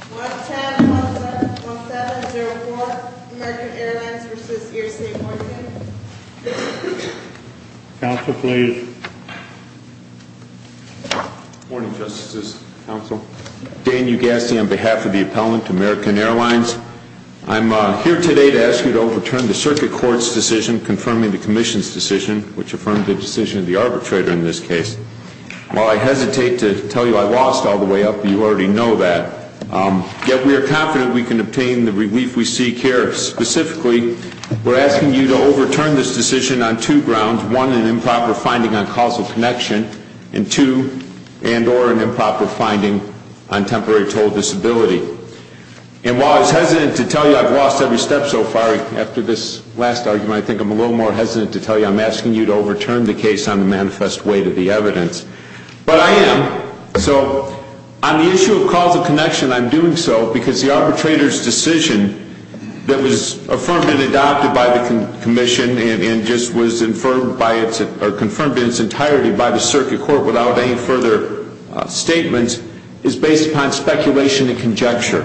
1-10-1-7-0-4, American Airlines v. Air State Morgan. Counsel, please. Good morning, Justices, Counsel. Dan Ugassi on behalf of the appellant, American Airlines. I'm here today to ask you to overturn the Circuit Court's decision confirming the Commission's decision, which affirmed the decision of the arbitrator in this case. While I hesitate to tell you I lost all the way up, you already know that. Yet we are confident we can obtain the relief we seek here. Specifically, we're asking you to overturn this decision on two grounds. One, an improper finding on causal connection. And two, and or an improper finding on temporary total disability. And while I was hesitant to tell you I've lost every step so far, after this last argument I think I'm a little more hesitant to tell you that I'm asking you to overturn the case on the manifest weight of the evidence. But I am. So on the issue of causal connection, I'm doing so because the arbitrator's decision that was affirmed and adopted by the Commission and just was confirmed in its entirety by the Circuit Court without any further statements is based upon speculation and conjecture,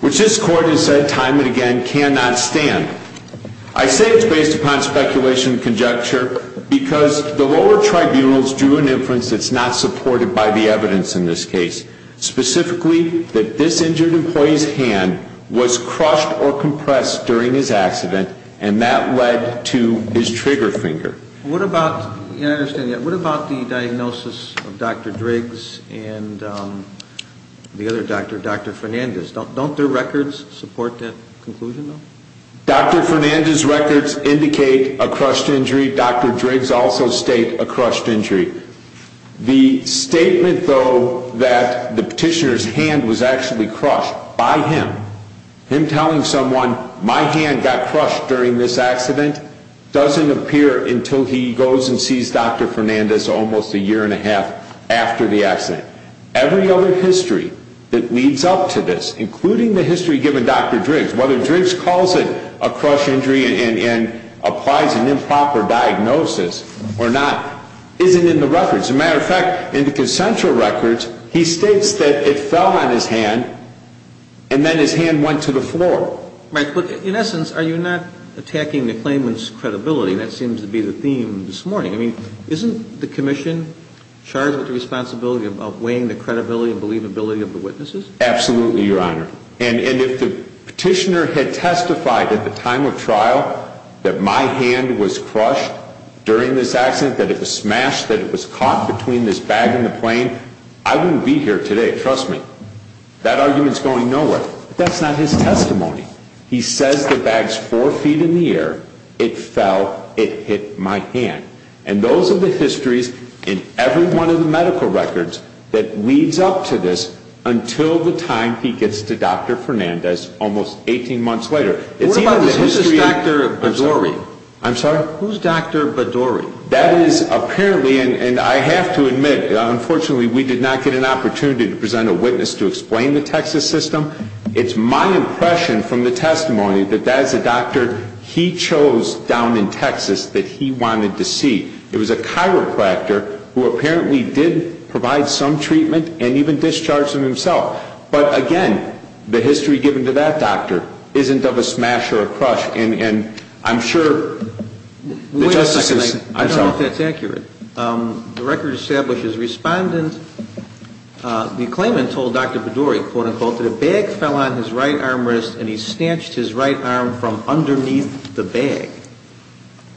which this Court has said time and again cannot stand. I say it's based upon speculation and conjecture because the lower tribunals drew an inference that's not supported by the evidence in this case. Specifically, that this injured employee's hand was crushed or compressed during his accident and that led to his trigger finger. What about, you know, I understand that. What about the diagnosis of Dr. Driggs and the other doctor, Dr. Fernandez? Don't their records support that conclusion, though? Dr. Fernandez's records indicate a crushed injury. Dr. Driggs also states a crushed injury. The statement, though, that the petitioner's hand was actually crushed by him, him telling someone, my hand got crushed during this accident, doesn't appear until he goes and sees Dr. Fernandez almost a year and a half after the accident. Every other history that leads up to this, including the history given Dr. Driggs, whether Driggs calls it a crushed injury and applies an improper diagnosis or not, isn't in the records. As a matter of fact, in the consensual records, he states that it fell on his hand and then his hand went to the floor. Right. But in essence, are you not attacking the claimant's credibility? That seems to be the theme this morning. I mean, isn't the Commission charged with the responsibility of weighing the credibility and believability of the witnesses? Absolutely, Your Honor. And if the petitioner had testified at the time of trial that my hand was crushed during this accident, that it was smashed, that it was caught between this bag and the plane, I wouldn't be here today, trust me. That argument's going nowhere. But that's not his testimony. He says the bag's four feet in the air, it fell, it hit my hand. And those are the histories in every one of the medical records that leads up to this until the time he gets to Dr. Fernandez, almost 18 months later. What about the history of Dr. Badouri? I'm sorry? Who's Dr. Badouri? That is apparently, and I have to admit, unfortunately we did not get an opportunity to present a witness to explain the Texas system. It's my impression from the testimony that that is a doctor he chose down in Texas that he wanted to see. It was a chiropractor who apparently did provide some treatment and even discharged him himself. But, again, the history given to that doctor isn't of a smash or a crush. And I'm sure the justices... Wait a second. I don't know if that's accurate. The record establishes respondent, the claimant, told Dr. Badouri, quote-unquote, that a bag fell on his right arm wrist and he snatched his right arm from underneath the bag.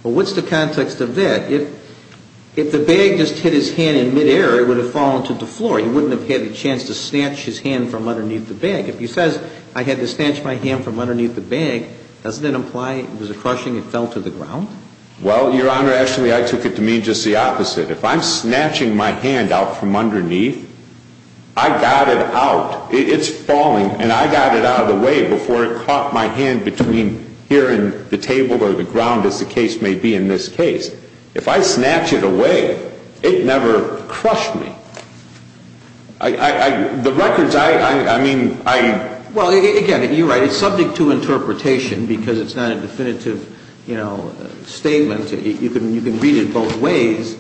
Well, what's the context of that? If the bag just hit his hand in midair, it would have fallen to the floor. He wouldn't have had a chance to snatch his hand from underneath the bag. If he says, I had to snatch my hand from underneath the bag, doesn't that imply it was a crushing, it fell to the ground? Well, Your Honor, actually I took it to mean just the opposite. If I'm snatching my hand out from underneath, I got it out. It's falling, and I got it out of the way before it caught my hand between here and the table or the ground, as the case may be in this case. If I snatch it away, it never crushed me. The records, I mean, I... Well, again, you're right. It's subject to interpretation because it's not a definitive statement. You can read it both ways.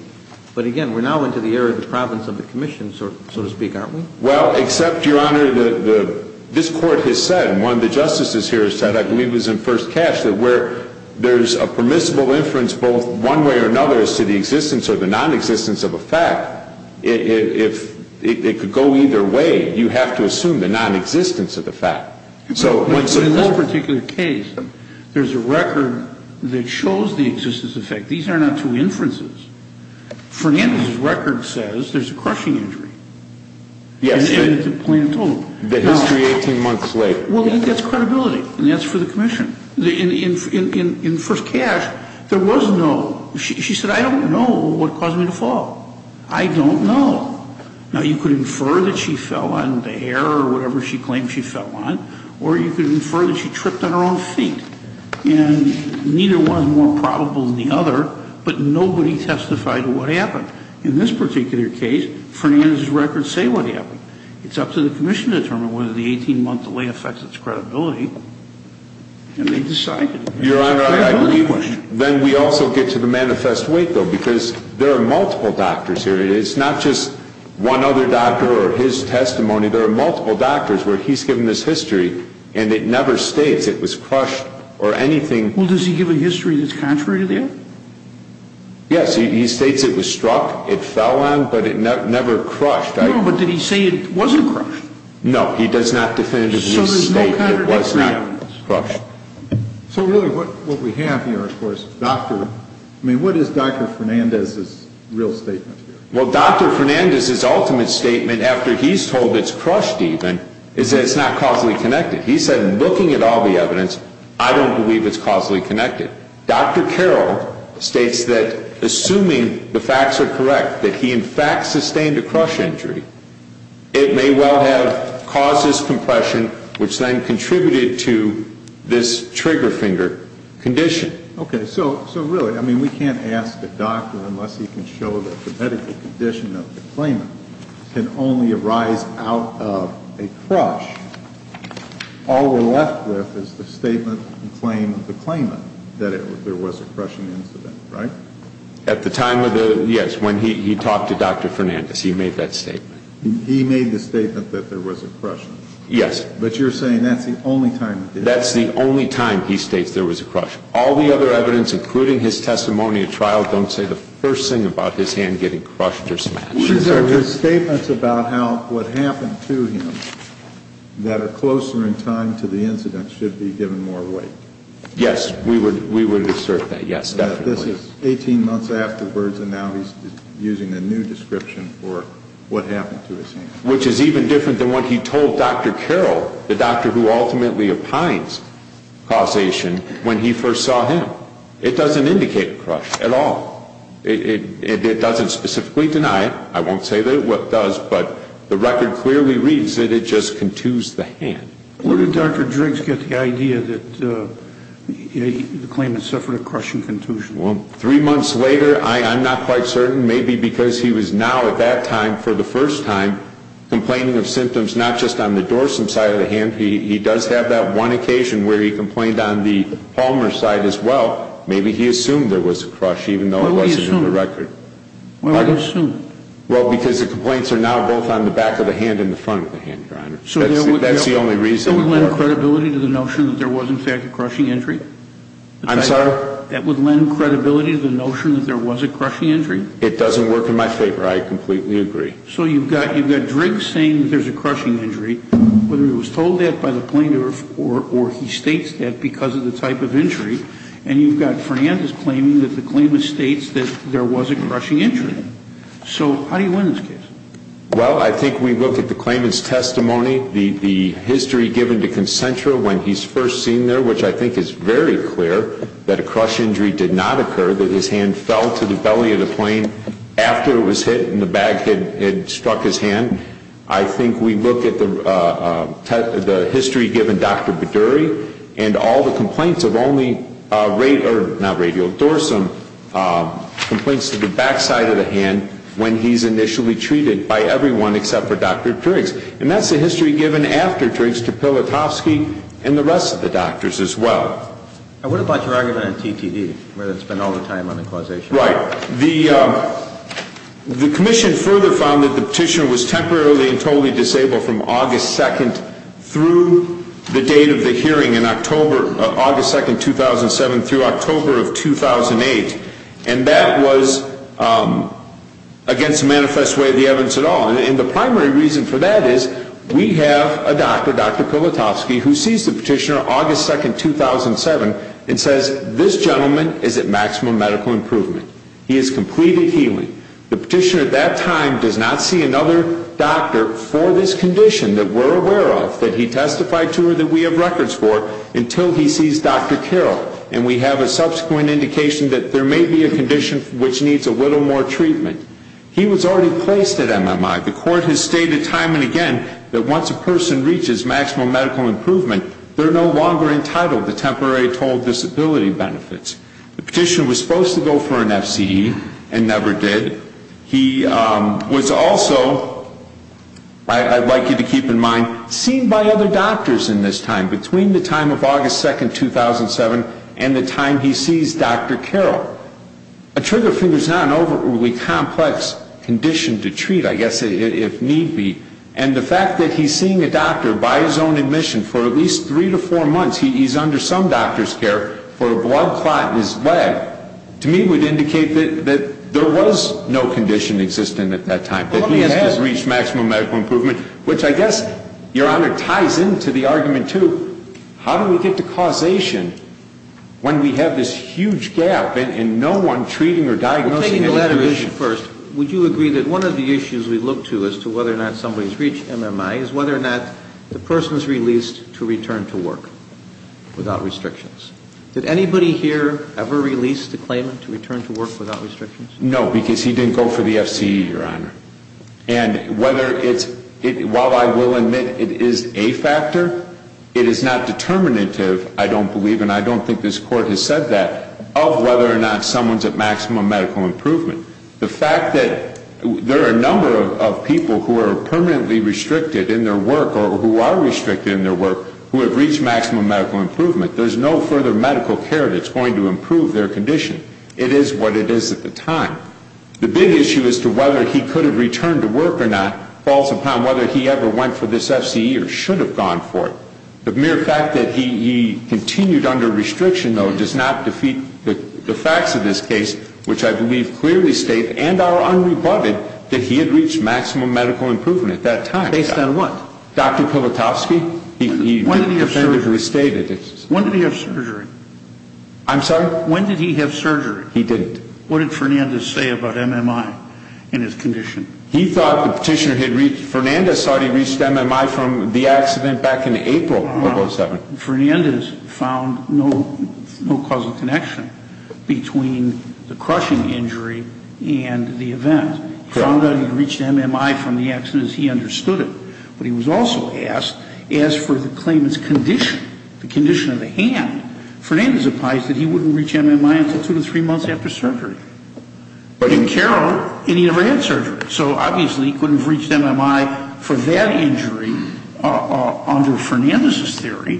But again, we're now into the era of the province of the commission, so to speak, aren't we? Well, except, Your Honor, this Court has said, and one of the justices here has said, I believe it was in first cash, that where there's a permissible inference both one way or another as to the existence or the nonexistence of a fact, it could go either way. You have to assume the nonexistence of the fact. But in this particular case, there's a record that shows the existence of the fact. These are not two inferences. Fernandez's record says there's a crushing injury. Yes. And it's plain and total. The history 18 months late. Well, that's credibility, and that's for the commission. In first cash, there was no... She said, I don't know what caused me to fall. I don't know. Now, you could infer that she fell on the air or whatever she claimed she fell on, or you could infer that she tripped on her own feet. And neither one is more probable than the other, but nobody testified to what happened. In this particular case, Fernandez's records say what happened. It's up to the commission to determine whether the 18-month delay affects its credibility, and they decided. Your Honor, I believe then we also get to the manifest weight, though, because there are multiple doctors here. It's not just one other doctor or his testimony. There are multiple doctors where he's given this history, and it never states it was crushed or anything. Well, does he give a history that's contrary to that? Yes. He states it was struck, it fell on, but it never crushed. No, but did he say it wasn't crushed? No, he does not definitively state it was not crushed. So really what we have here, of course, doctor, I mean, what is Dr. Fernandez's real statement here? Well, Dr. Fernandez's ultimate statement, after he's told it's crushed even, is that it's not causally connected. He said, in looking at all the evidence, I don't believe it's causally connected. Dr. Carroll states that, assuming the facts are correct, that he, in fact, sustained a crush injury, it may well have caused this compression, which then contributed to this trigger finger condition. Okay. So really, I mean, we can't ask a doctor unless he can show that the medical condition of the claimant can only arise out of a crush. All we're left with is the statement and claim of the claimant that there was a crushing incident, right? At the time of the, yes, when he talked to Dr. Fernandez, he made that statement. He made the statement that there was a crushing. Yes. But you're saying that's the only time he did it. That's the only time he states there was a crushing. All the other evidence, including his testimony at trial, don't say the first thing about his hand getting crushed or smashed. These are his statements about how what happened to him that are closer in time to the incident should be given more weight. Yes, we would assert that, yes, definitely. This is 18 months afterwards, and now he's using a new description for what happened to his hand. Which is even different than what he told Dr. Carroll, the doctor who ultimately opines causation, when he first saw him. It doesn't indicate a crush at all. It doesn't specifically deny it. I won't say that it does, but the record clearly reads that it just contused the hand. Where did Dr. Driggs get the idea that the claimant suffered a crushing contusion? Well, three months later, I'm not quite certain. Maybe because he was now, at that time, for the first time, complaining of symptoms not just on the dorsum side of the hand. He does have that one occasion where he complained on the palmar side as well. Maybe he assumed there was a crush, even though it wasn't in the record. Why would he assume? Well, because the complaints are now both on the back of the hand and the front of the hand, Your Honor. That's the only reason. That would lend credibility to the notion that there was, in fact, a crushing injury? I'm sorry? That would lend credibility to the notion that there was a crushing injury? It doesn't work in my favor. I completely agree. So you've got Driggs saying there's a crushing injury. Whether he was told that by the plaintiff or he states that because of the type of injury. And you've got Fernandez claiming that the claimant states that there was a crushing injury. So how do you win this case? Well, I think we look at the claimant's testimony, the history given to Concentra when he's first seen there, which I think is very clear that a crush injury did not occur, that his hand fell to the belly of the plane after it was hit and the bag had struck his hand. I think we look at the history given Dr. Baddouri and all the complaints of only radial dorsum, complaints to the backside of the hand when he's initially treated by everyone except for Dr. Driggs. And that's the history given after Driggs to Pilotowski and the rest of the doctors as well. And what about your argument on TTD, where it's been all the time on the causation? Right. The commission further found that the petitioner was temporarily and totally disabled from August 2nd through the date of the hearing in October, August 2nd, 2007 through October of 2008. And that was against the manifest way of the evidence at all. And the primary reason for that is we have a doctor, Dr. Pilotowski, who sees the petitioner August 2nd, 2007 and says, this gentleman is at maximum medical improvement. He has completed healing. The petitioner at that time does not see another doctor for this condition that we're aware of, that he testified to or that we have records for until he sees Dr. Carroll. And we have a subsequent indication that there may be a condition which needs a little more treatment. He was already placed at MMI. The court has stated time and again that once a person reaches maximum medical improvement, they're no longer entitled to temporary total disability benefits. The petitioner was supposed to go for an FCE and never did. He was also, I'd like you to keep in mind, seen by other doctors in this time, between the time of August 2nd, 2007 and the time he sees Dr. Carroll. A trigger finger is not an overly complex condition to treat, I guess, if need be. And the fact that he's seeing a doctor by his own admission for at least three to four months, he's under some doctor's care for a blood clot in his leg, to me would indicate that there was no condition existing at that time, that he has reached maximum medical improvement, which I guess, Your Honor, ties into the argument, too. How do we get to causation when we have this huge gap and no one treating or diagnosing any condition? Well, taking the latter issue first, would you agree that one of the issues we look to as to whether or not somebody's reached MMI is whether or not the person's released to return to work without restrictions? Did anybody here ever release the claimant to return to work without restrictions? No, because he didn't go for the FCE, Your Honor. And whether it's, while I will admit it is a factor, it is not determinative, I don't believe, and I don't think this Court has said that, of whether or not someone's at maximum medical improvement. The fact that there are a number of people who are permanently restricted in their work, or who are restricted in their work, who have reached maximum medical improvement. There's no further medical care that's going to improve their condition. It is what it is at the time. The big issue as to whether he could have returned to work or not, falls upon whether he ever went for this FCE or should have gone for it. The mere fact that he continued under restriction, though, does not defeat the facts of this case, which I believe clearly state, and are unrebutted, that he had reached maximum medical improvement at that time. Based on what? Dr. Pilotowski. When did he have surgery? When did he have surgery? I'm sorry? When did he have surgery? He didn't. What did Fernandez say about MMI and his condition? He thought the petitioner had reached, Fernandez thought he reached MMI from the accident back in April of 2007. Fernandez found no causal connection between the crushing injury and the event. He found that he reached MMI from the accident as he understood it. But he was also asked for the claimant's condition, the condition of the hand. Fernandez advised that he wouldn't reach MMI until two to three months after surgery. He didn't care, and he never had surgery. So obviously he couldn't have reached MMI for that injury under Fernandez's theory.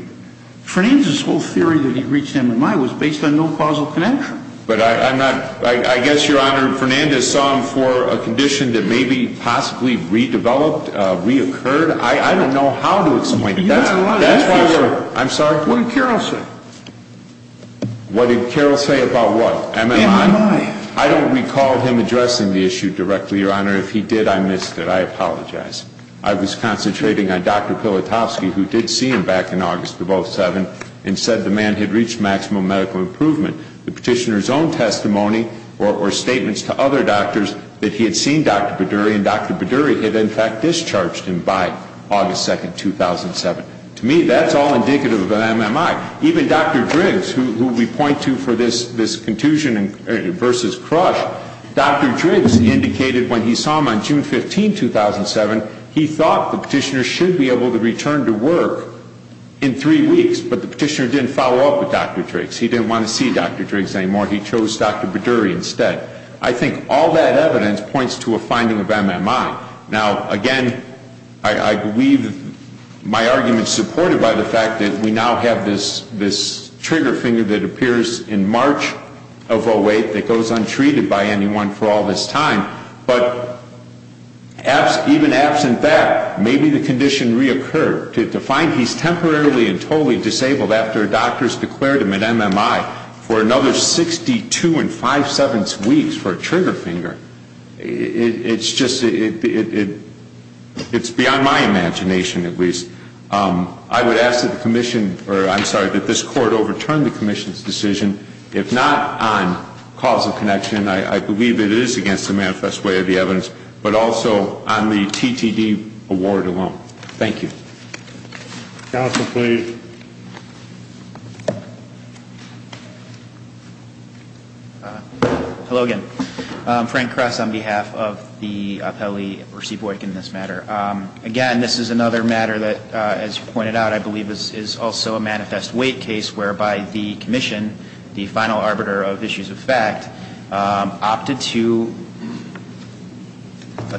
Fernandez's whole theory that he reached MMI was based on no causal connection. But I'm not, I guess, Your Honor, Fernandez saw him for a condition that maybe possibly redeveloped, reoccurred. I don't know how to explain that. That's why we're, I'm sorry? What did Carroll say? What did Carroll say about what? MMI. MMI. I don't recall him addressing the issue directly, Your Honor. If he did, I missed it. I apologize. I was concentrating on Dr. Pilotowski, who did see him back in August of 2007, and said the man had reached maximal medical improvement. The petitioner's own testimony or statements to other doctors that he had seen Dr. Badouri, and Dr. Badouri had in fact discharged him by August 2, 2007. To me, that's all indicative of MMI. Even Dr. Driggs, who we point to for this contusion versus crush, Dr. Driggs indicated when he saw him on June 15, 2007, he thought the petitioner should be able to return to work in three weeks, but the petitioner didn't follow up with Dr. Driggs. He didn't want to see Dr. Driggs anymore. He chose Dr. Badouri instead. I think all that evidence points to a finding of MMI. Now, again, I believe my argument is supported by the fact that we now have this trigger finger that appears in March of 2008 that goes untreated by anyone for all this time, but even absent that, maybe the condition reoccurred. To find he's temporarily and totally disabled after doctors declared him an MMI for another 62 5-7 weeks for a trigger finger, it's beyond my imagination at least. I would ask that this Court overturn the Commission's decision, if not on causal connection, I believe it is against the manifest way of the evidence, but also on the TTD award alone. Thank you. Counsel, please. Hello again. Frank Kress on behalf of the appellee in this matter. Again, this is another matter that, as you pointed out, I believe is also a manifest weight case whereby the Commission, the final arbiter of issues of fact, opted to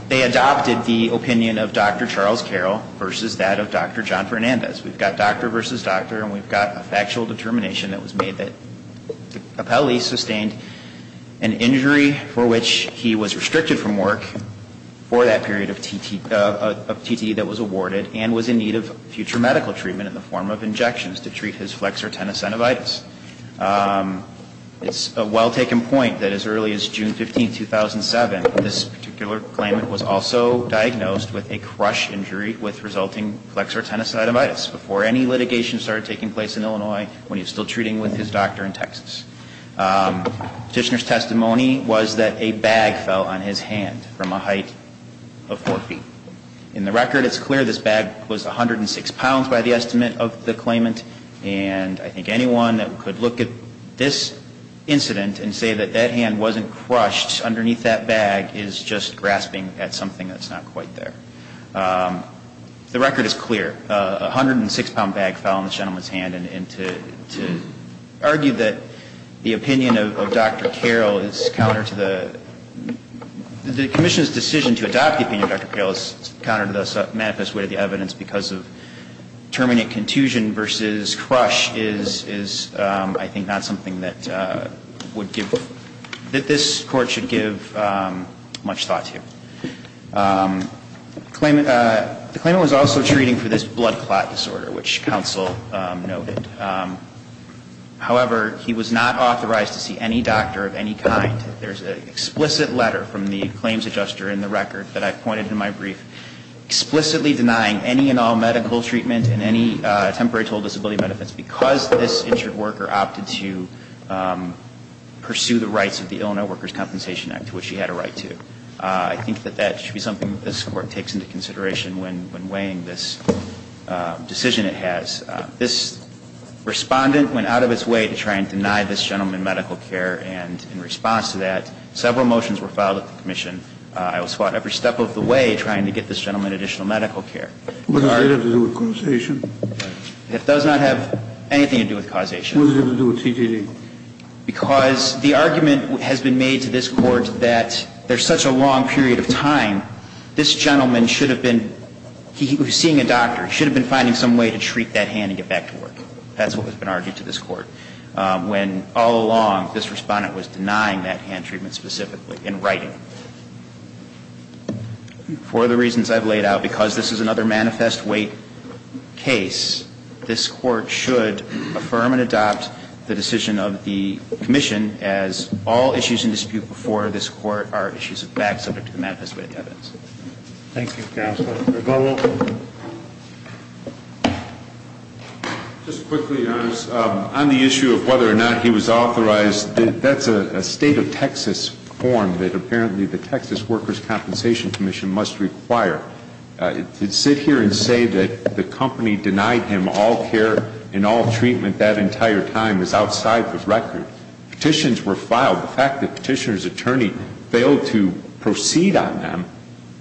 They adopted the opinion of Dr. Charles Carroll versus that of Dr. John Fernandez. We've got doctor versus doctor, and we've got a factual determination that was made that the appellee sustained an injury for which he was restricted from work for that period of TTD that was awarded and was in need of future medical treatment in the form of injections to treat his flexor tenosynovitis. It's a well-taken point that as early as June 15, 2007, this particular claimant was also diagnosed with a crush injury with resulting flexor tenosynovitis before any litigation started taking place in Illinois when he was still treating with his doctor in Texas. Petitioner's testimony was that a bag fell on his hand from a height of four feet. In the record, it's clear this bag was 106 pounds by the estimate of the claimant, and I think anyone that could look at this incident and say that that hand wasn't crushed underneath that bag is just grasping at something that's not quite there. The record is clear. A 106-pound bag fell on this gentleman's hand, and to argue that the opinion of Dr. Carroll is counter to the The Commission's decision to adopt the opinion of Dr. Carroll is counter to the manifest weight of the evidence because of terminate contusion versus crush is, I think, not something that would give that this Court should give much thought to. The claimant was also treating for this blood clot disorder, which counsel noted. However, he was not authorized to see any doctor of any kind. There's an explicit letter from the claims adjuster in the record that I've pointed in my brief explicitly denying any and all medical treatment and any temporary total disability benefits because this injured worker opted to pursue the rights of the Illinois Workers' Compensation Act, which she had a right to. I think that that should be something that this Court takes into consideration when weighing this decision it has. This respondent went out of its way to try and deny this gentleman medical care, and in response to that, several motions were filed at the Commission. I will spot every step of the way trying to get this gentleman additional medical care. Kennedy, what does it have to do with causation? It does not have anything to do with causation. What does it have to do with TDD? Because the argument has been made to this Court that there's such a long period of time, this gentleman should have been he was seeing a doctor. He should have been finding some way to treat that hand and get back to work. That's what has been argued to this Court when all along this respondent was denying that hand treatment specifically in writing. For the reasons I've laid out, because this is another manifest weight case, this Court should affirm and adopt the decision of the Commission as all issues in dispute before this Court are issues of fact subject to the manifest weight of evidence. Thank you, Counselor. Rebolo. Just quickly, Your Honor, on the issue of whether or not he was authorized, that's a State of Texas form that apparently the Texas Workers' Compensation Commission must require. To sit here and say that the company denied him all care and all treatment that entire time is outside the record. Petitions were filed. The fact that Petitioner's attorney failed to proceed on them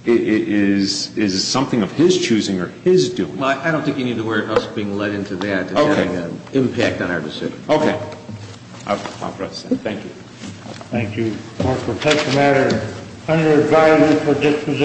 is something of his choosing or his doing. I don't think you need to worry about us being led into that and having an impact on our decision. Okay. Thank you. Thank you. Court is adjourned.